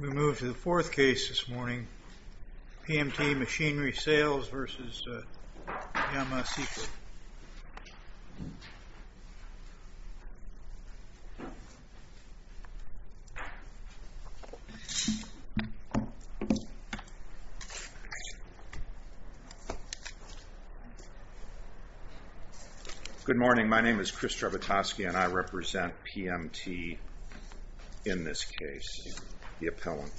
We move to the fourth case this morning, PMT Machinery Sales v. Yama Seiki. Good morning. My name is Chris Strabutosky, and I represent PMT in this case, the appellant.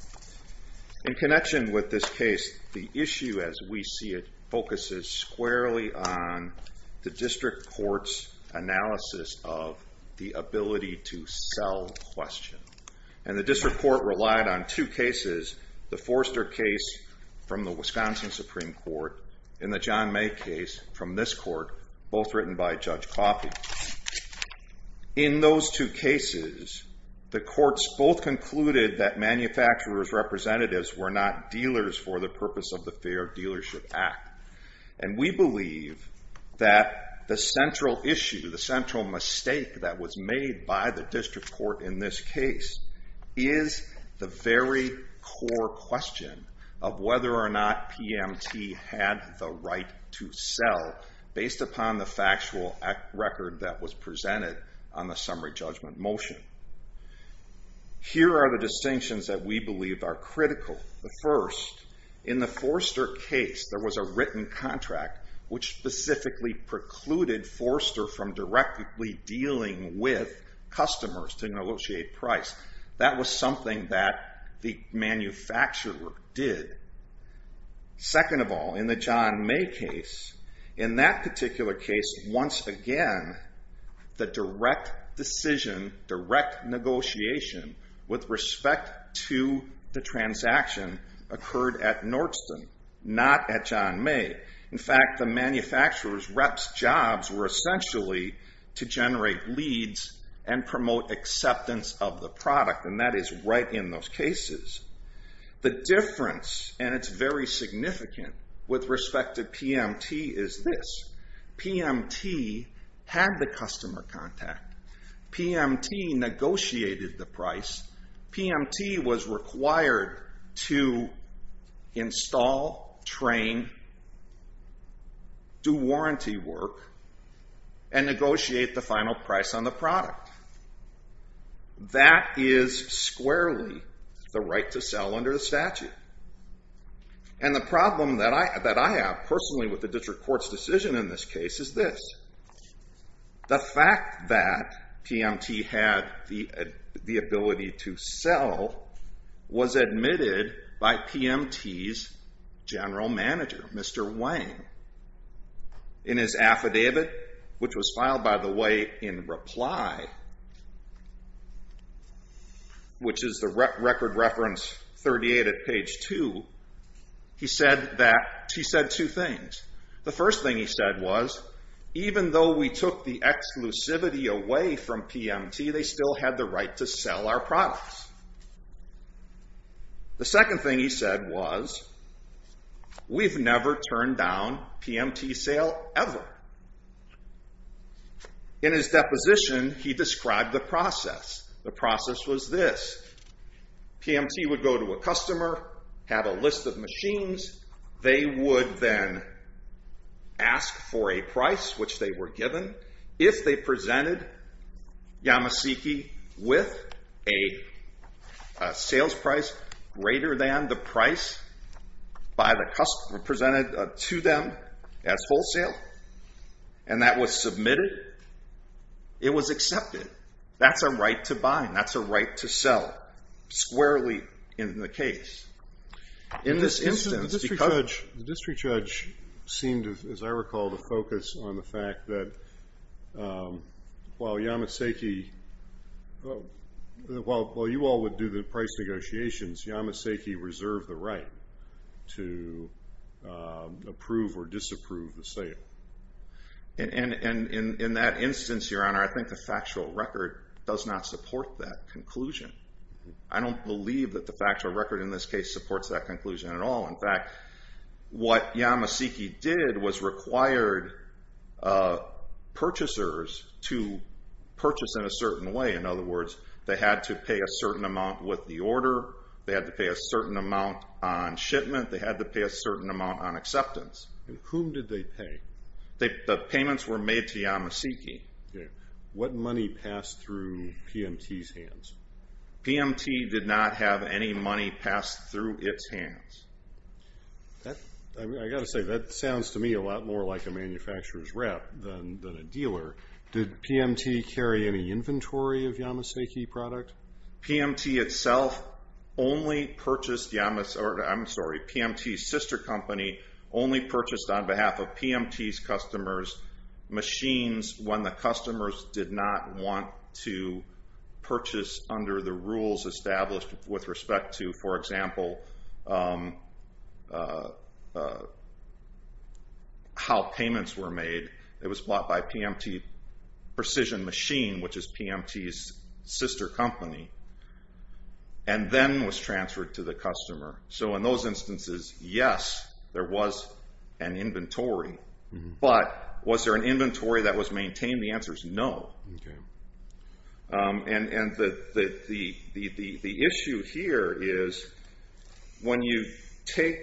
In connection with this case, the issue, as we see it, focuses squarely on the district court's analysis of the ability to sell question. And the district court relied on two cases, the Forster case from the Wisconsin Supreme Court, and the John May case from this court, both written by Judge Coffey. Now, in those two cases, the courts both concluded that manufacturers' representatives were not dealers for the purpose of the Fair Dealership Act. And we believe that the central issue, the central mistake that was made by the district court in this case, is the very core question of whether or not PMT had the right to sell based upon the factual record that was presented on the summary judgment motion. Here are the distinctions that we believe are critical. The first, in the Forster case, there was a written contract which specifically precluded Forster from directly dealing with customers to negotiate price. That was something that the manufacturer did. Second of all, in the John May case, in that particular case, once again, the direct decision, direct negotiation, with respect to the transaction, occurred at Nordsten, not at John May. In fact, the manufacturer's rep's jobs were essentially to generate leads and promote acceptance of the product, and that is right in those cases. The difference, and it's very significant with respect to PMT, is this. PMT had the customer contact. PMT negotiated the price. PMT was required to install, train, do warranty work, and negotiate the final price on the product. That is squarely the right to sell under the statute. And the problem that I have personally with the district court's decision in this case is this. The fact that PMT had the ability to sell was admitted by PMT's general manager, Mr. Wang. In his affidavit, which was filed, by the way, in reply, which is the record reference 38 at page 2, he said two things. The first thing he said was, even though we took the exclusivity away from PMT, they still had the right to sell our products. The second thing he said was, we've never turned down PMT's sale ever. In his deposition, he described the process. The process was this. PMT would go to a customer, have a list of machines. They would then ask for a price, which they were given. If they presented Yamasaki with a sales price greater than the price by the customer presented to them as wholesale, and that was submitted, it was accepted. That's a right to buy. That's a right to sell, squarely in the case. In this instance, the district judge seemed, as I recall, to focus on the fact that while Yamasaki, while you all would do the price negotiations, Yamasaki reserved the right to approve or disapprove the sale. In that instance, your honor, I think the factual record does not support that conclusion. I don't believe that the factual record in this case supports that conclusion at all. In fact, what Yamasaki did was required purchasers to purchase in a certain way. In other words, they had to pay a certain amount with the order. They had to pay a certain amount on shipment. They had to pay a certain amount on acceptance. Whom did they pay? The payments were made to Yamasaki. What money passed through PMT's hands? PMT did not have any money passed through its hands. I got to say, that sounds to me a lot more like a manufacturer's rep than a dealer. Did PMT carry any inventory of Yamasaki product? PMT itself only purchased Yamasaki, I'm sorry, PMT's sister company only purchased on behalf of PMT's customers' machines when the customers did not want to purchase under the rules established with respect to, for example, how payments were made. It was bought by PMT Precision Machine, which is PMT's sister company, and then was transferred to the customer. In those instances, yes, there was an inventory, but was there an inventory that was maintained? The answer is no. The issue here is when you take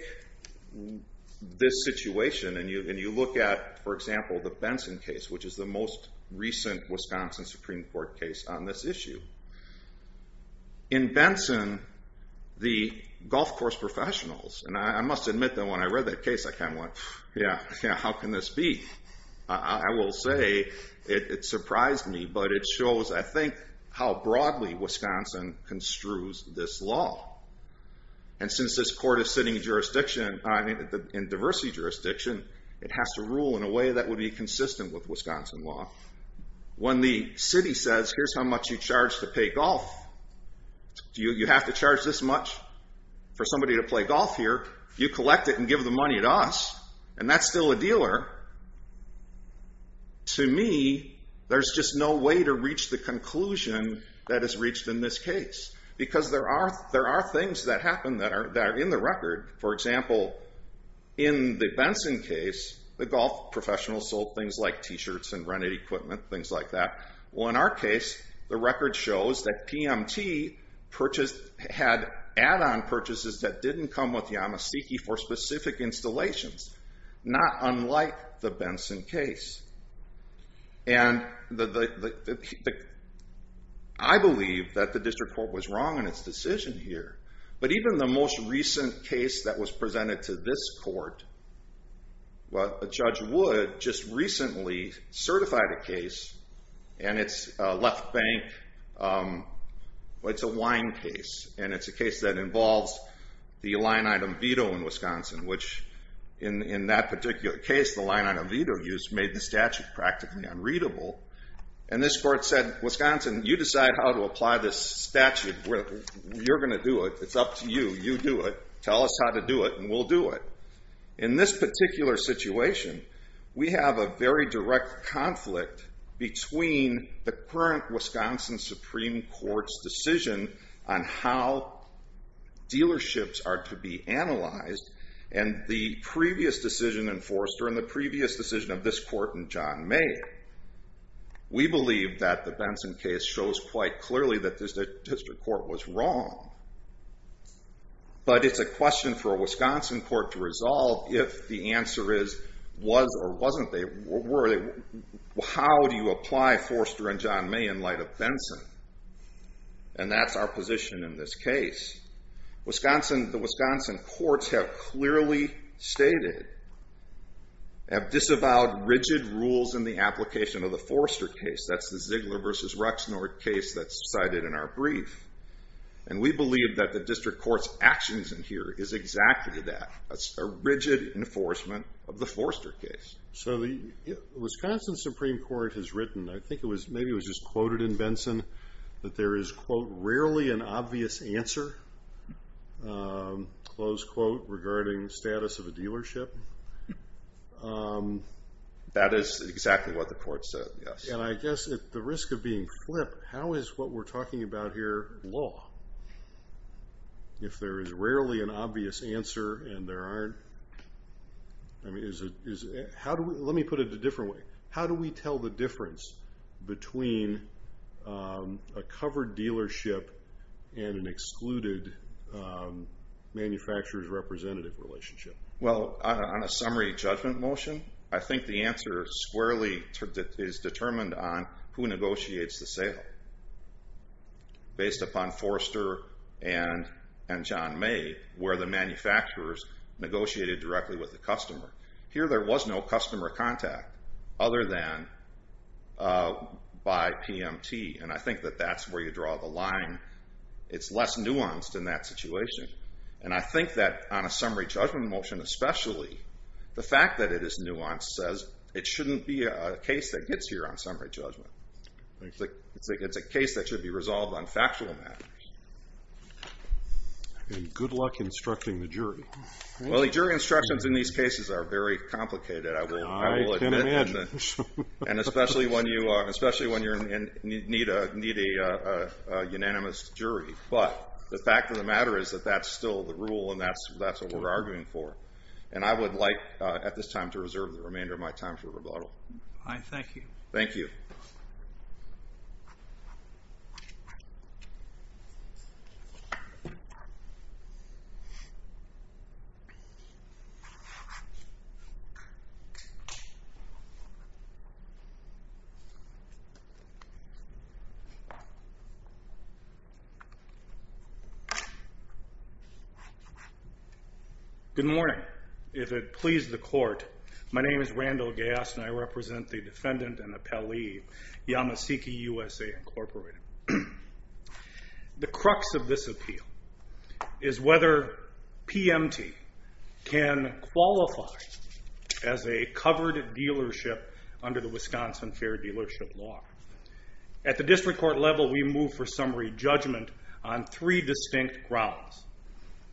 this situation and you look at, for example, the Benson case, which is the most recent Wisconsin Supreme Court case on this issue. In Benson, the golf course professionals, and I must admit that when I read that case, I kind of went, yeah, how can this be? I will say it surprised me, but it shows, I think, how broadly Wisconsin construes this law. And since this court is sitting in diversity jurisdiction, it has to rule in a way that would be consistent with Wisconsin law. When the city says, here's how much you charge to pay golf. You have to charge this much for somebody to play golf here. You collect it and give the money to us, and that's still a dealer. To me, there's just no way to reach the conclusion that is reached in this case, because there are things that happen that are in the record. For example, in the Benson case, the golf professionals sold things like t-shirts and rented equipment, things like that. Well, in our case, the record shows that PMT had add-on purchases that didn't come with Yamaseki for specific installations, not unlike the Benson case. And I believe that the district court was wrong in its decision here, but even the most recent case that was presented to this court, well, they recently certified a case, and it's a left bank, it's a wine case. And it's a case that involves the line-item veto in Wisconsin, which in that particular case, the line-item veto used made the statute practically unreadable. And this court said, Wisconsin, you decide how to apply this statute. You're going to do it. It's up to you. You do it. Tell us how to do it, and we'll do it. In this particular situation, we have a very direct conflict between the current Wisconsin Supreme Court's decision on how dealerships are to be analyzed, and the previous decision in Forrester, and the previous decision of this court in John May. We believe that the Benson case shows quite clearly that the district court was wrong. But it's a question for a Wisconsin court to resolve if the answer is, was or wasn't they, were they, how do you apply Forrester and John May in light of Benson, and that's our position in this case. Wisconsin, the Wisconsin courts have clearly stated, have disavowed rigid rules in the application of the Forrester case. That's the Ziegler versus Ruxnord case that's cited in our brief. And we believe that the district court's actions in here is exactly that. That's a rigid enforcement of the Forrester case. So the Wisconsin Supreme Court has written, I think maybe it was just quoted in Benson, that there is quote, rarely an obvious answer, close quote, regarding status of a dealership. That is exactly what the court said, yes. And I guess at the risk of being flipped, how is what we're talking about here law? If there is rarely an obvious answer and there aren't, how do we, let me put it a different way, how do we tell the difference between a covered dealership and an excluded manufacturer's representative relationship? Well, on a summary judgment motion, I think the answer squarely is determined on who negotiates the sale. Based upon Forrester and John May, where the manufacturers negotiated directly with the customer. Here there was no customer contact other than by PMT. And I think that that's where you draw the line. It's less nuanced in that situation. And I think that on a summary judgment motion especially, the fact that it is nuanced says it shouldn't be a case that gets here on summary judgment. I think it's a case that should be resolved on factual matters. And good luck instructing the jury. Well, the jury instructions in these cases are very complicated. I will admit that, and especially when you need a unanimous jury. But the fact of the matter is that that's still the rule and that's what we're arguing for. And I would like at this time to reserve the remainder of my time for rebuttal. I thank you. Thank you. Good morning. If it pleases the court, my name is Randall Gass and I represent the defendant and appellee, Yamasaki USA Incorporated. The crux of this appeal is whether PMT can qualify as a covered dealership under the Wisconsin Fair Dealership Law. At the district court level, we move for summary judgment on three distinct grounds,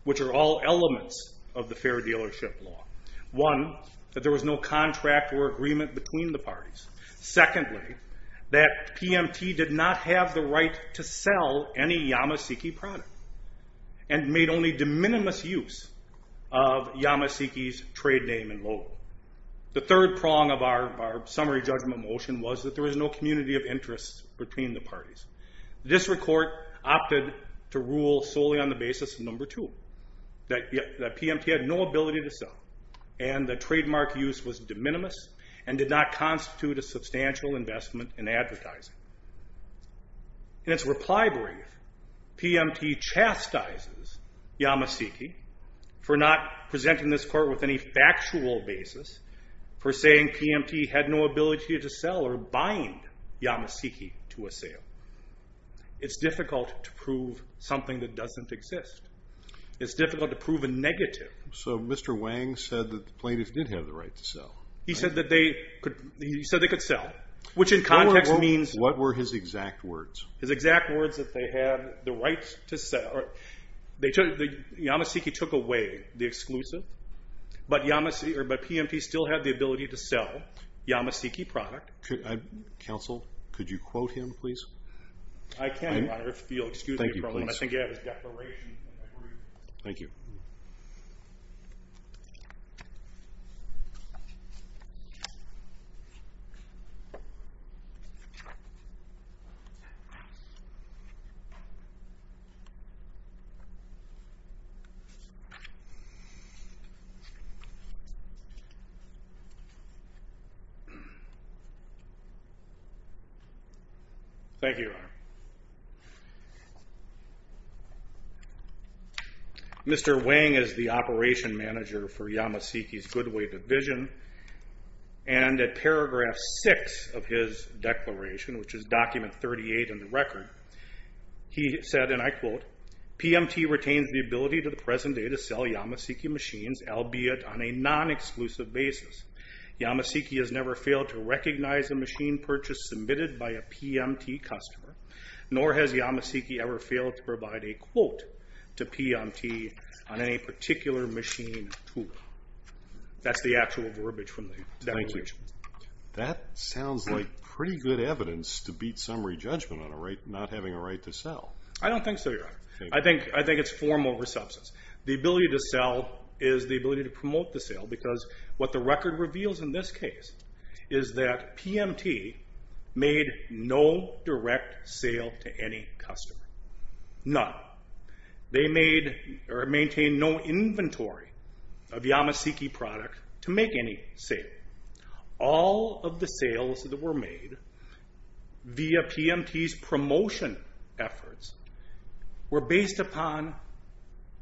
which are all elements of the Fair Dealership Law. One, that there was no contract or agreement between the parties. Secondly, that PMT did not have the right to sell any Yamasaki product and made only de minimis use of Yamasaki's trade name and logo. The third prong of our summary judgment motion was that there was no community of interest between the parties. District court opted to rule solely on the basis of number two, that PMT had no ability to sell and the trademark use was de minimis and did not constitute a substantial investment in advertising. In its reply brief, PMT chastises Yamasaki for not presenting this court with any factual basis for saying PMT had no ability to sell or bind Yamasaki to a sale. It's difficult to prove something that doesn't exist. It's difficult to prove a negative. So Mr. Wang said that the plaintiff did have the right to sell. He said that they could sell, which in context means... What were his exact words? His exact words that they had the right to sell. Yamasaki took away the exclusive, but PMT still had the ability to sell Yamasaki product. Counsel, could you quote him, please? I can, Your Honor, if you'll excuse me for a moment. I think you have his declaration in the room. Thank you. Thank you, Your Honor. Mr. Wang is the operation manager for Yamasaki's Goodway division. And at paragraph six of his declaration, which is document 38 in the record, he said, and I quote, PMT retains the ability to the present day to sell Yamasaki machines, albeit on a non-exclusive basis. Yamasaki has never failed to recognize a machine purchase submitted by a PMT customer, nor has Yamasaki ever failed to provide a quote to PMT on any particular machine tool. That's the actual verbiage from the declaration. Thank you. That sounds like pretty good evidence to beat summary judgment on a right not having a right to sell. I don't think so, Your Honor. I think it's form over substance. The ability to sell is the ability to promote the sale because what the record reveals in this case is that PMT made no direct sale to any customer. None. They made or maintained no inventory of Yamasaki product to make any sale. All of the sales that were made via PMT's promotion efforts were based upon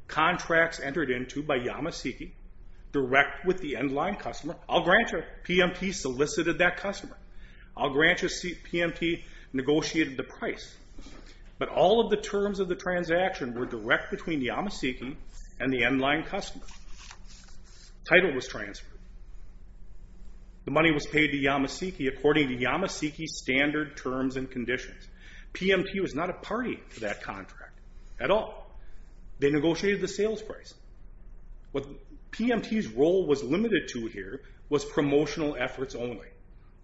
contracts entered into by Yamasaki direct with the end line customer. I'll grant you, PMT solicited that customer. I'll grant you, PMT negotiated the price. But all of the terms of the transaction were direct between Yamasaki and the end line customer. Title was transferred. The money was paid to Yamasaki according to Yamasaki's standard terms and conditions. PMT was not a party to that contract at all. They negotiated the sales price. What PMT's role was limited to here was promotional efforts only.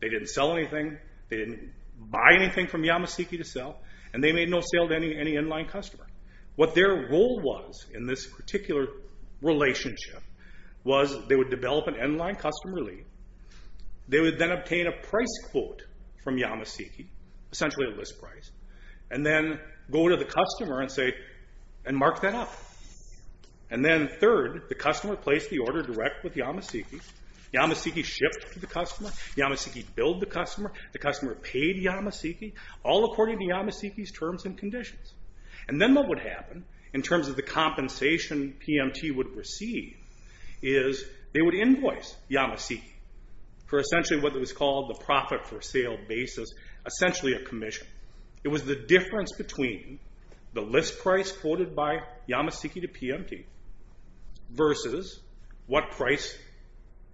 They didn't sell anything. They didn't buy anything from Yamasaki to sell. And they made no sale to any end line customer. What their role was in this particular relationship was they would develop an end line customer lead. They would then obtain a price quote from Yamasaki, essentially a list price. And then go to the customer and say, and mark that up. And then third, the customer placed the order direct with Yamasaki. Yamasaki shipped to the customer. Yamasaki billed the customer. The customer paid Yamasaki. All according to Yamasaki's terms and conditions. And then what would happen in terms of the compensation PMT would receive is they would invoice Yamasaki for essentially what was called the profit for sale basis, essentially a commission. It was the difference between the list price quoted by Yamasaki to PMT versus what price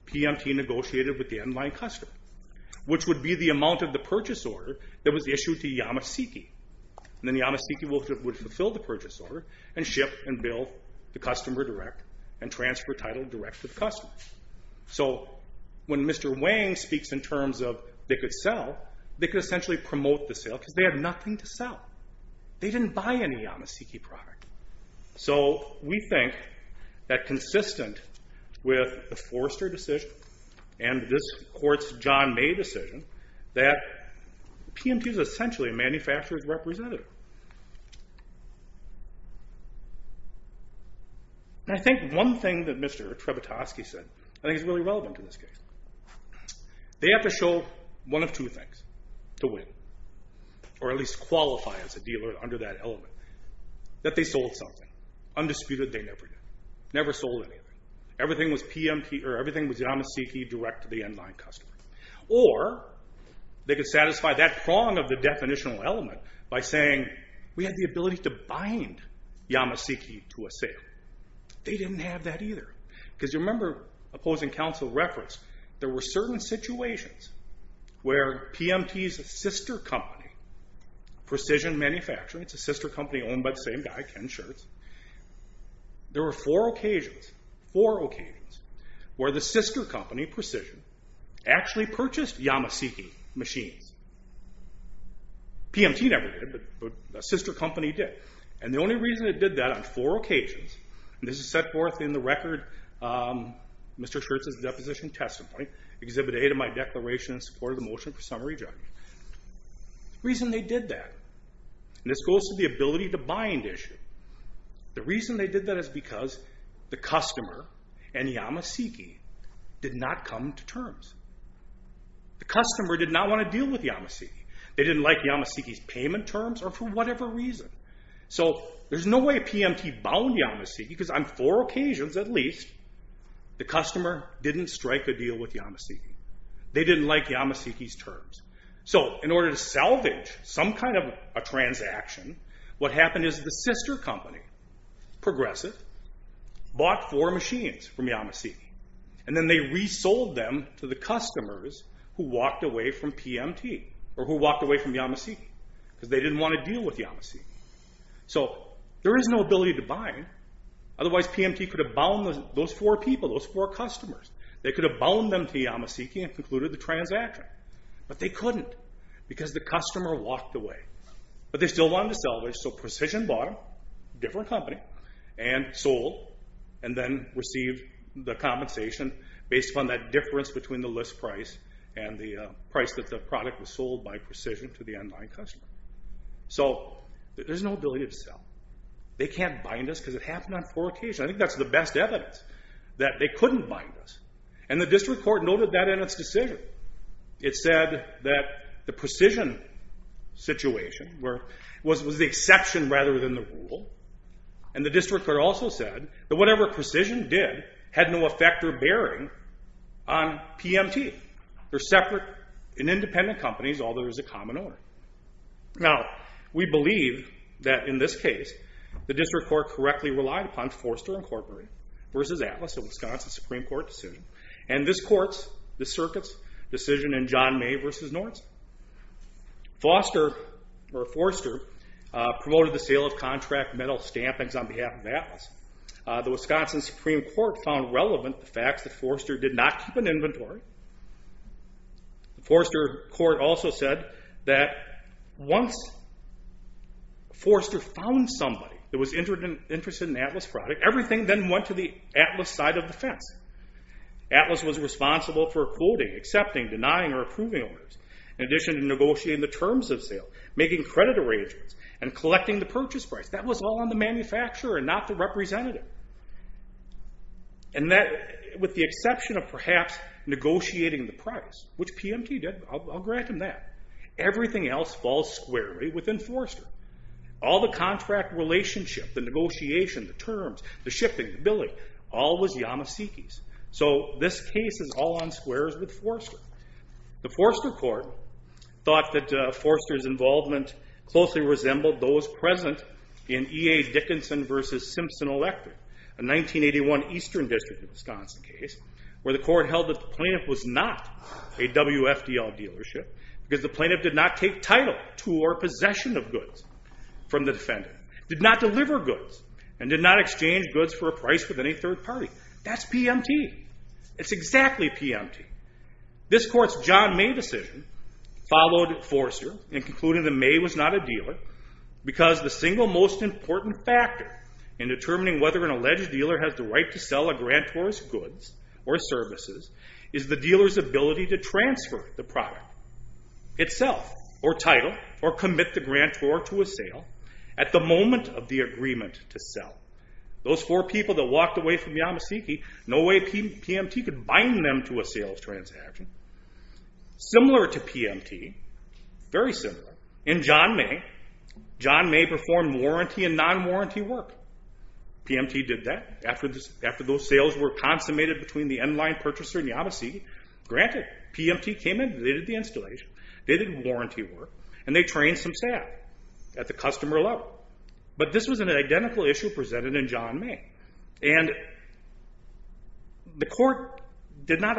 PMT negotiated with the end line customer, which would be the amount of the purchase order that was issued to Yamasaki. And then Yamasaki would fulfill the purchase order and ship and bill the customer direct and transfer title direct to the customer. So when Mr. Wang speaks in terms of they could sell, they could essentially promote the sale because they had nothing to sell. They didn't buy any Yamasaki product. So we think that consistent with the Forrester decision and this court's John May decision, that PMT is essentially a manufacturer's representative. And I think one thing that Mr. Trebitoski said I think is really relevant in this case. They have to show one of two things to win, or at least qualify as a dealer under that element. That they sold something. Undisputed, they never did. Never sold anything. Everything was Yamasaki direct to the end line customer. Or they could satisfy that prong of the definitional element by saying, we have the ability to bind Yamasaki to a sale. They didn't have that either. Because you remember opposing counsel referenced there were certain situations where PMT's sister company, Precision Manufacturing, it's a sister company owned by the same guy, Ken Schertz. There were four occasions, four occasions, where the sister company, Precision, actually purchased Yamasaki machines. PMT never did, but a sister company did. And the only reason it did that on four occasions, and this is set forth in the record, Mr. Schertz's deposition testimony, Exhibit A to my declaration in support of the motion for summary judgment. The reason they did that, and this goes to the ability to bind issue. The reason they did that is because the customer and Yamasaki did not come to terms. The customer did not want to deal with Yamasaki. They didn't like Yamasaki's payment terms or for whatever reason. So there's no way PMT bound Yamasaki because on four occasions at least, the customer didn't strike a deal with Yamasaki. They didn't like Yamasaki's terms. So in order to salvage some kind of a transaction, what happened is the sister company, Progressive, bought four machines from Yamasaki. And then they resold them to the customers who walked away from PMT, or who walked away from Yamasaki because they didn't want to deal with Yamasaki. So there is no ability to bind. Otherwise, PMT could have bound those four people, those four customers. They could have bound them to Yamasaki and concluded the transaction. But they couldn't because the customer walked away. But they still wanted to salvage, so Precision bought them, different company, and sold, and then received the compensation based upon that difference between the list price and the price that the product was sold by Precision to the online customer. So there's no ability to sell. They can't bind us because it happened on four occasions. I think that's the best evidence, that they couldn't bind us. And the district court noted that in its decision. It said that the Precision situation was the exception rather than the rule. And the district court also said that whatever Precision did had no effect or bearing on PMT. They're separate and independent companies, although there is a common owner. Now, we believe that in this case, the district court correctly relied upon Forster Incorporated versus Atlas, a Wisconsin Supreme Court decision, and this court's, the circuit's, decision in John May versus Norton. Forster promoted the sale of contract metal stampings on behalf of Atlas. The Wisconsin Supreme Court found relevant the fact that Forster did not keep an inventory. Forster court also said that once Forster found somebody that was interested in an Atlas product, everything then went to the Atlas side of the fence. Atlas was responsible for quoting, accepting, denying, or approving owners, in addition to negotiating the terms of sale, making credit arrangements, and collecting the purchase price. That was all on the manufacturer and not the representative. And that, with the exception of perhaps negotiating the price, which PMT did, I'll grant them that, everything else falls squarely within Forster. All the contract relationship, the negotiation, the terms, the shipping, the billing, all was Yamaseke's. So this case is all on squares with Forster. The Forster court thought that Forster's involvement closely resembled those present in EA Dickinson versus Simpson Electric, a 1981 Eastern District of Wisconsin case, where the court held that the plaintiff was not a WFDL dealership because the plaintiff did not take title to or possession of goods from the defendant, did not deliver goods, and did not exchange goods for a price with any third party. That's PMT. It's exactly PMT. This court's John May decision followed Forster in concluding that May was not a dealer because the single most important factor in determining whether an alleged dealer has the right to sell a grantor's goods or services is the dealer's ability to transfer the product itself, or title, or commit the grantor to a sale at the moment of the agreement to sell. Those four people that walked away from Yamaseke, no way PMT could bind them to a sales transaction. Similar to PMT, very similar, in John May, John May performed warranty and non-warranty work. PMT did that. After those sales were consummated between the end line purchaser and Yamaseke, granted, PMT came in. They did the installation. They did warranty work. And they trained some staff at the customer level. But this was an identical issue presented in John May. And the court did not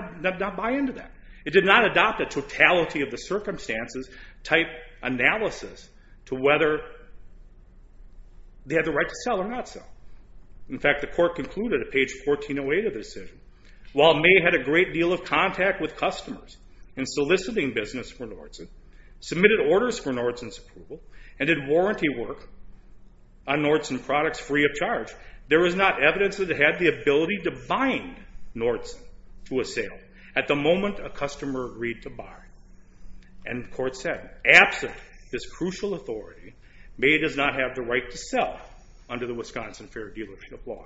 buy into that. It did not adopt a totality of the circumstances type analysis to whether they had the right to sell or not sell. In fact, the court concluded at page 1408 of the decision, while May had a great deal of contact with customers in soliciting business for Norton, submitted orders for Norton's approval, and did warranty work on Norton products free of charge, there was not evidence that it had the ability to bind Norton to a sale at the moment a customer agreed to buy. And the court said, absent this crucial authority, May does not have the right to sell under the Wisconsin Fair Dealership Law.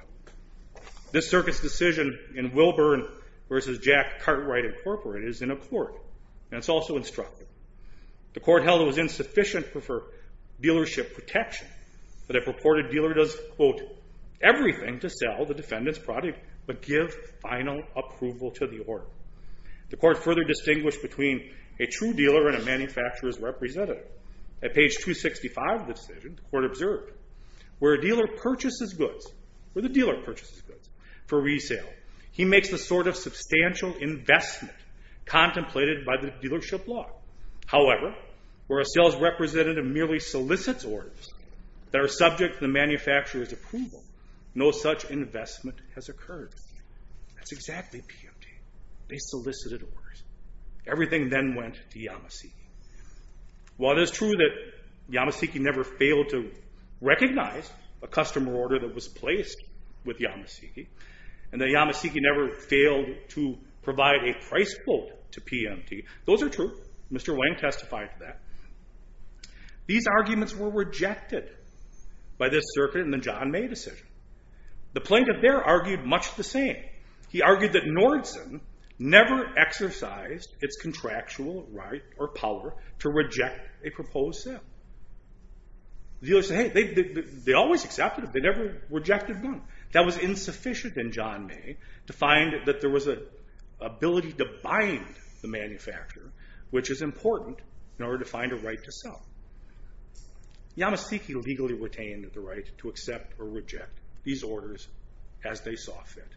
This circuit's decision in Wilburn versus Jack Cartwright Incorporated is in accord. And it's also instructive. The court held it was insufficient for dealership protection. But a purported dealer does, quote, everything to sell the defendant's product but give final approval to the order. The court further distinguished between a true dealer and a manufacturer's representative. At page 265 of the decision, the court observed, where a dealer purchases goods for resale, he makes the sort of substantial investment contemplated by the dealership law. However, where a sales representative merely solicits orders that are subject to the manufacturer's approval, no such investment has occurred. That's exactly PMT. They solicited orders. Everything then went to Yamaseki. While it is true that Yamaseki never failed to recognize a customer order that Yamaseki never failed to provide a price quote to PMT, those are true. Mr. Wang testified to that. These arguments were rejected by this circuit in the John May decision. The plaintiff there argued much the same. He argued that Nordson never exercised its contractual right or power to reject a proposed sale. The dealer said, hey, they always accepted it. They never rejected none. That was insufficient in John May to find that there was an ability to bind the manufacturer, which is important in order to find a right to sell. Yamaseki legally retained the right to accept or reject these orders as they saw fit.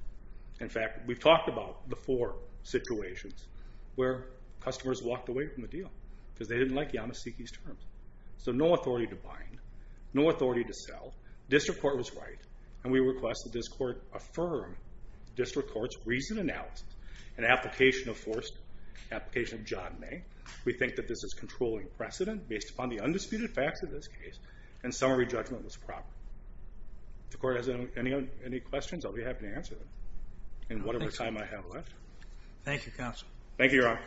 In fact, we've talked about the four situations where customers walked away from the deal because they didn't like Yamaseki's terms. So no authority to bind, no authority to sell. District Court was right, and we request that this court affirm District Court's reasoned analysis and application of forced application of John May. We think that this is controlling precedent based upon the undisputed facts of this case, and summary judgment was proper. If the court has any questions, I'll be happy to answer them. Thank you, counsel. Thank you, Your Honor.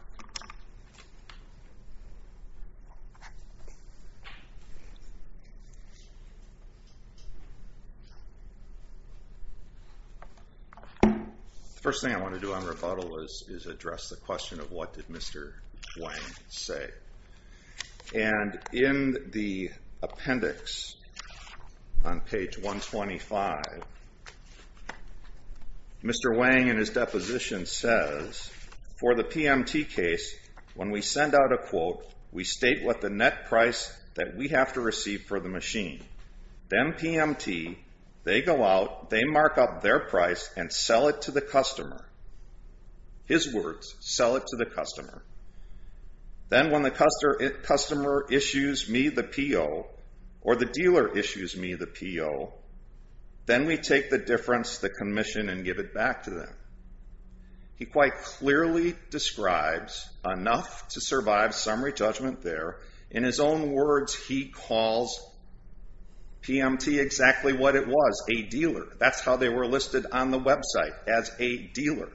Thank you. The first thing I want to do on rebuttal is address the question of what did Mr. Wang say. And in the appendix on page 125, Mr. Wang in his deposition says, for the PMT case, when we send out a quote, we state what the net price that we have to receive for the machine. Then PMT, they go out, they mark up their price, and sell it to the customer. His words, sell it to the customer. Then when the customer issues me the PO, or the dealer issues me the PO, then we take the difference, the commission, and give it back to them. He quite clearly describes enough to survive summary judgment there. In his own words, he calls PMT exactly what it was, a dealer. That's how they were listed on the website, as a dealer.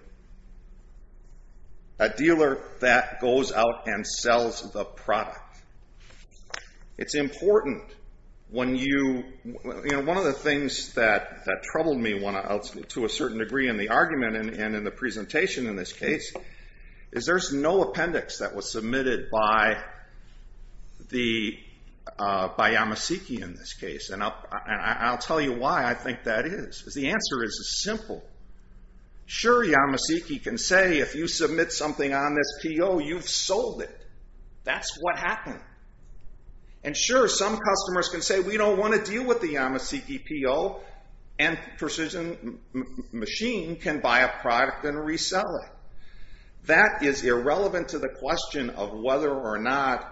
A dealer that goes out and sells the product. It's important when you, you know, one of the things that troubled me to a certain degree in the argument and in the presentation in this case is there's no appendix that was submitted by Yamasaki in this case. And I'll tell you why I think that is. The answer is simple. Sure, Yamasaki can say, if you submit something on this PO, you've sold it. That's what happened. And sure, some customers can say, we don't want to deal with the Yamasaki PO. And Precision Machine can buy a product and resell it. That is irrelevant to the question of whether or not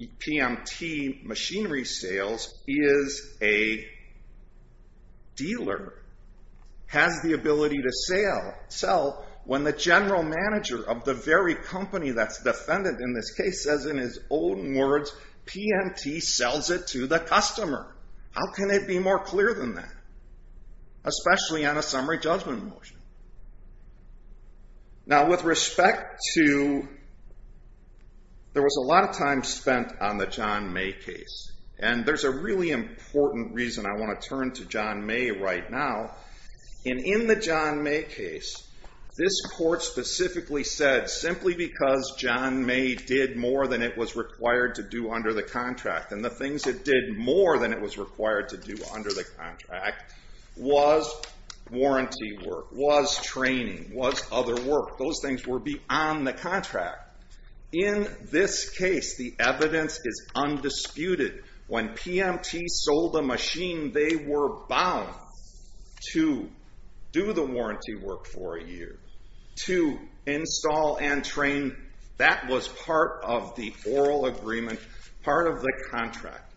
PMT Machinery Sales is a dealer. Has the ability to sell when the general manager of the very company that's defendant in this case says in his own words, PMT sells it to the customer. How can it be more clear than that, especially on a summary judgment motion? Now with respect to, there was a lot of time spent on the John May case. And there's a really important reason I want to turn to John May right now. And in the John May case, this court specifically said simply because John May did more than it was required to do under the contract, and the things it did more than it was required to do under the contract, was warranty work, was training, was other work. Those things were beyond the contract. In this case, the evidence is undisputed. When PMT sold the machine, they were bound to do the warranty work for a year, to install and train. That was part of the oral agreement, part of the contract.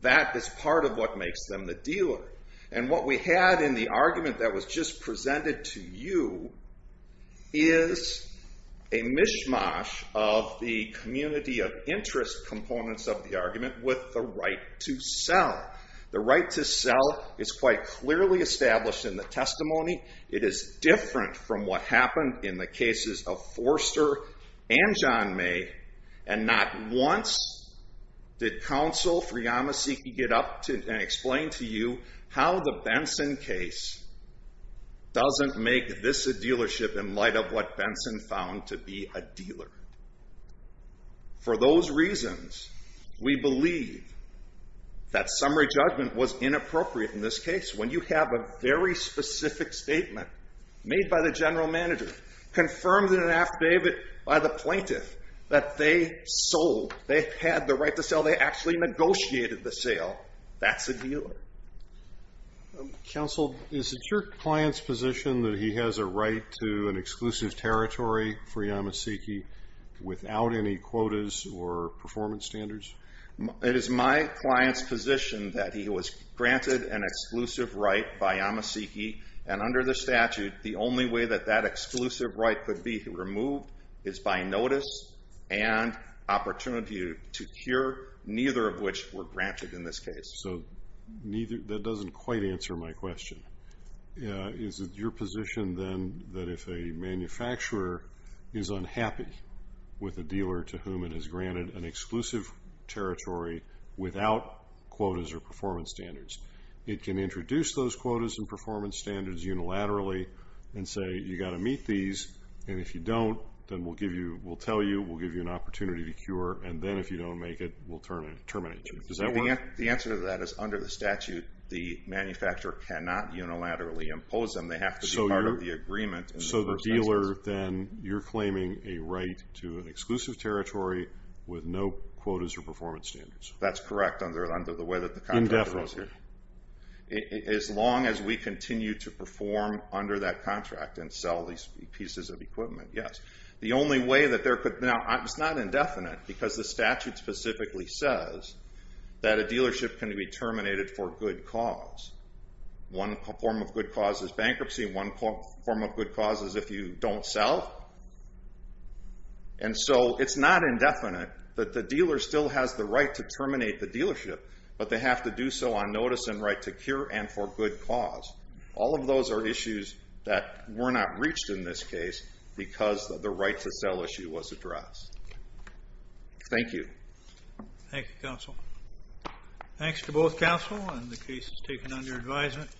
That is part of what makes them the dealer. And what we had in the argument that was just presented to you is a mishmash of the community of interest components of the argument with the right to sell. The right to sell is quite clearly established in the testimony. It is different from what happened in the cases of Forster and John May. And not once did counsel, Fuyamaseki, get up and explain to you how the Benson case doesn't make this a dealership in light of what Benson found to be a dealer. For those reasons, we believe that summary judgment was inappropriate in this case. When you have a very specific statement made by the general manager, confirmed in an affidavit by the plaintiff, that they sold, they had the right to sell, they actually negotiated the sale, that's a dealer. Counsel, is it your client's position that he has a right to an exclusive territory for Yamaseki without any quotas or performance standards? It is my client's position that he was granted an exclusive right by Yamaseki. And under the statute, the only way that that exclusive right could be removed is by notice and opportunity to cure, neither of which were granted in this case. So that doesn't quite answer my question. Is it your position, then, that if a manufacturer is unhappy with a dealer to whom it has granted an exclusive territory without quotas or performance standards, it can introduce those quotas and performance standards unilaterally and say, you've got to meet these. And if you don't, then we'll tell you, we'll give you an opportunity to cure. And then if you don't make it, we'll terminate you. Does that work? The answer to that is, under the statute, the manufacturer cannot unilaterally impose them. They have to be part of the agreement. So the dealer, then, you're claiming a right to an exclusive territory with no quotas or performance standards. That's correct under the way that the contract is here. Indefinitely. As long as we continue to perform under that contract and sell these pieces of equipment, yes. The only way that there could, now, it's not indefinite. Because the statute specifically says that a dealership can be terminated for good cause. One form of good cause is bankruptcy. One form of good cause is if you don't sell. And so it's not indefinite that the dealer still has the right to terminate the dealership, but they have to do so on notice and right to cure and for good cause. All of those are issues that were not reached in this case because the right to sell issue was addressed. Thank you. Thank you, counsel. Thanks to both counsel and the cases taken under advisement.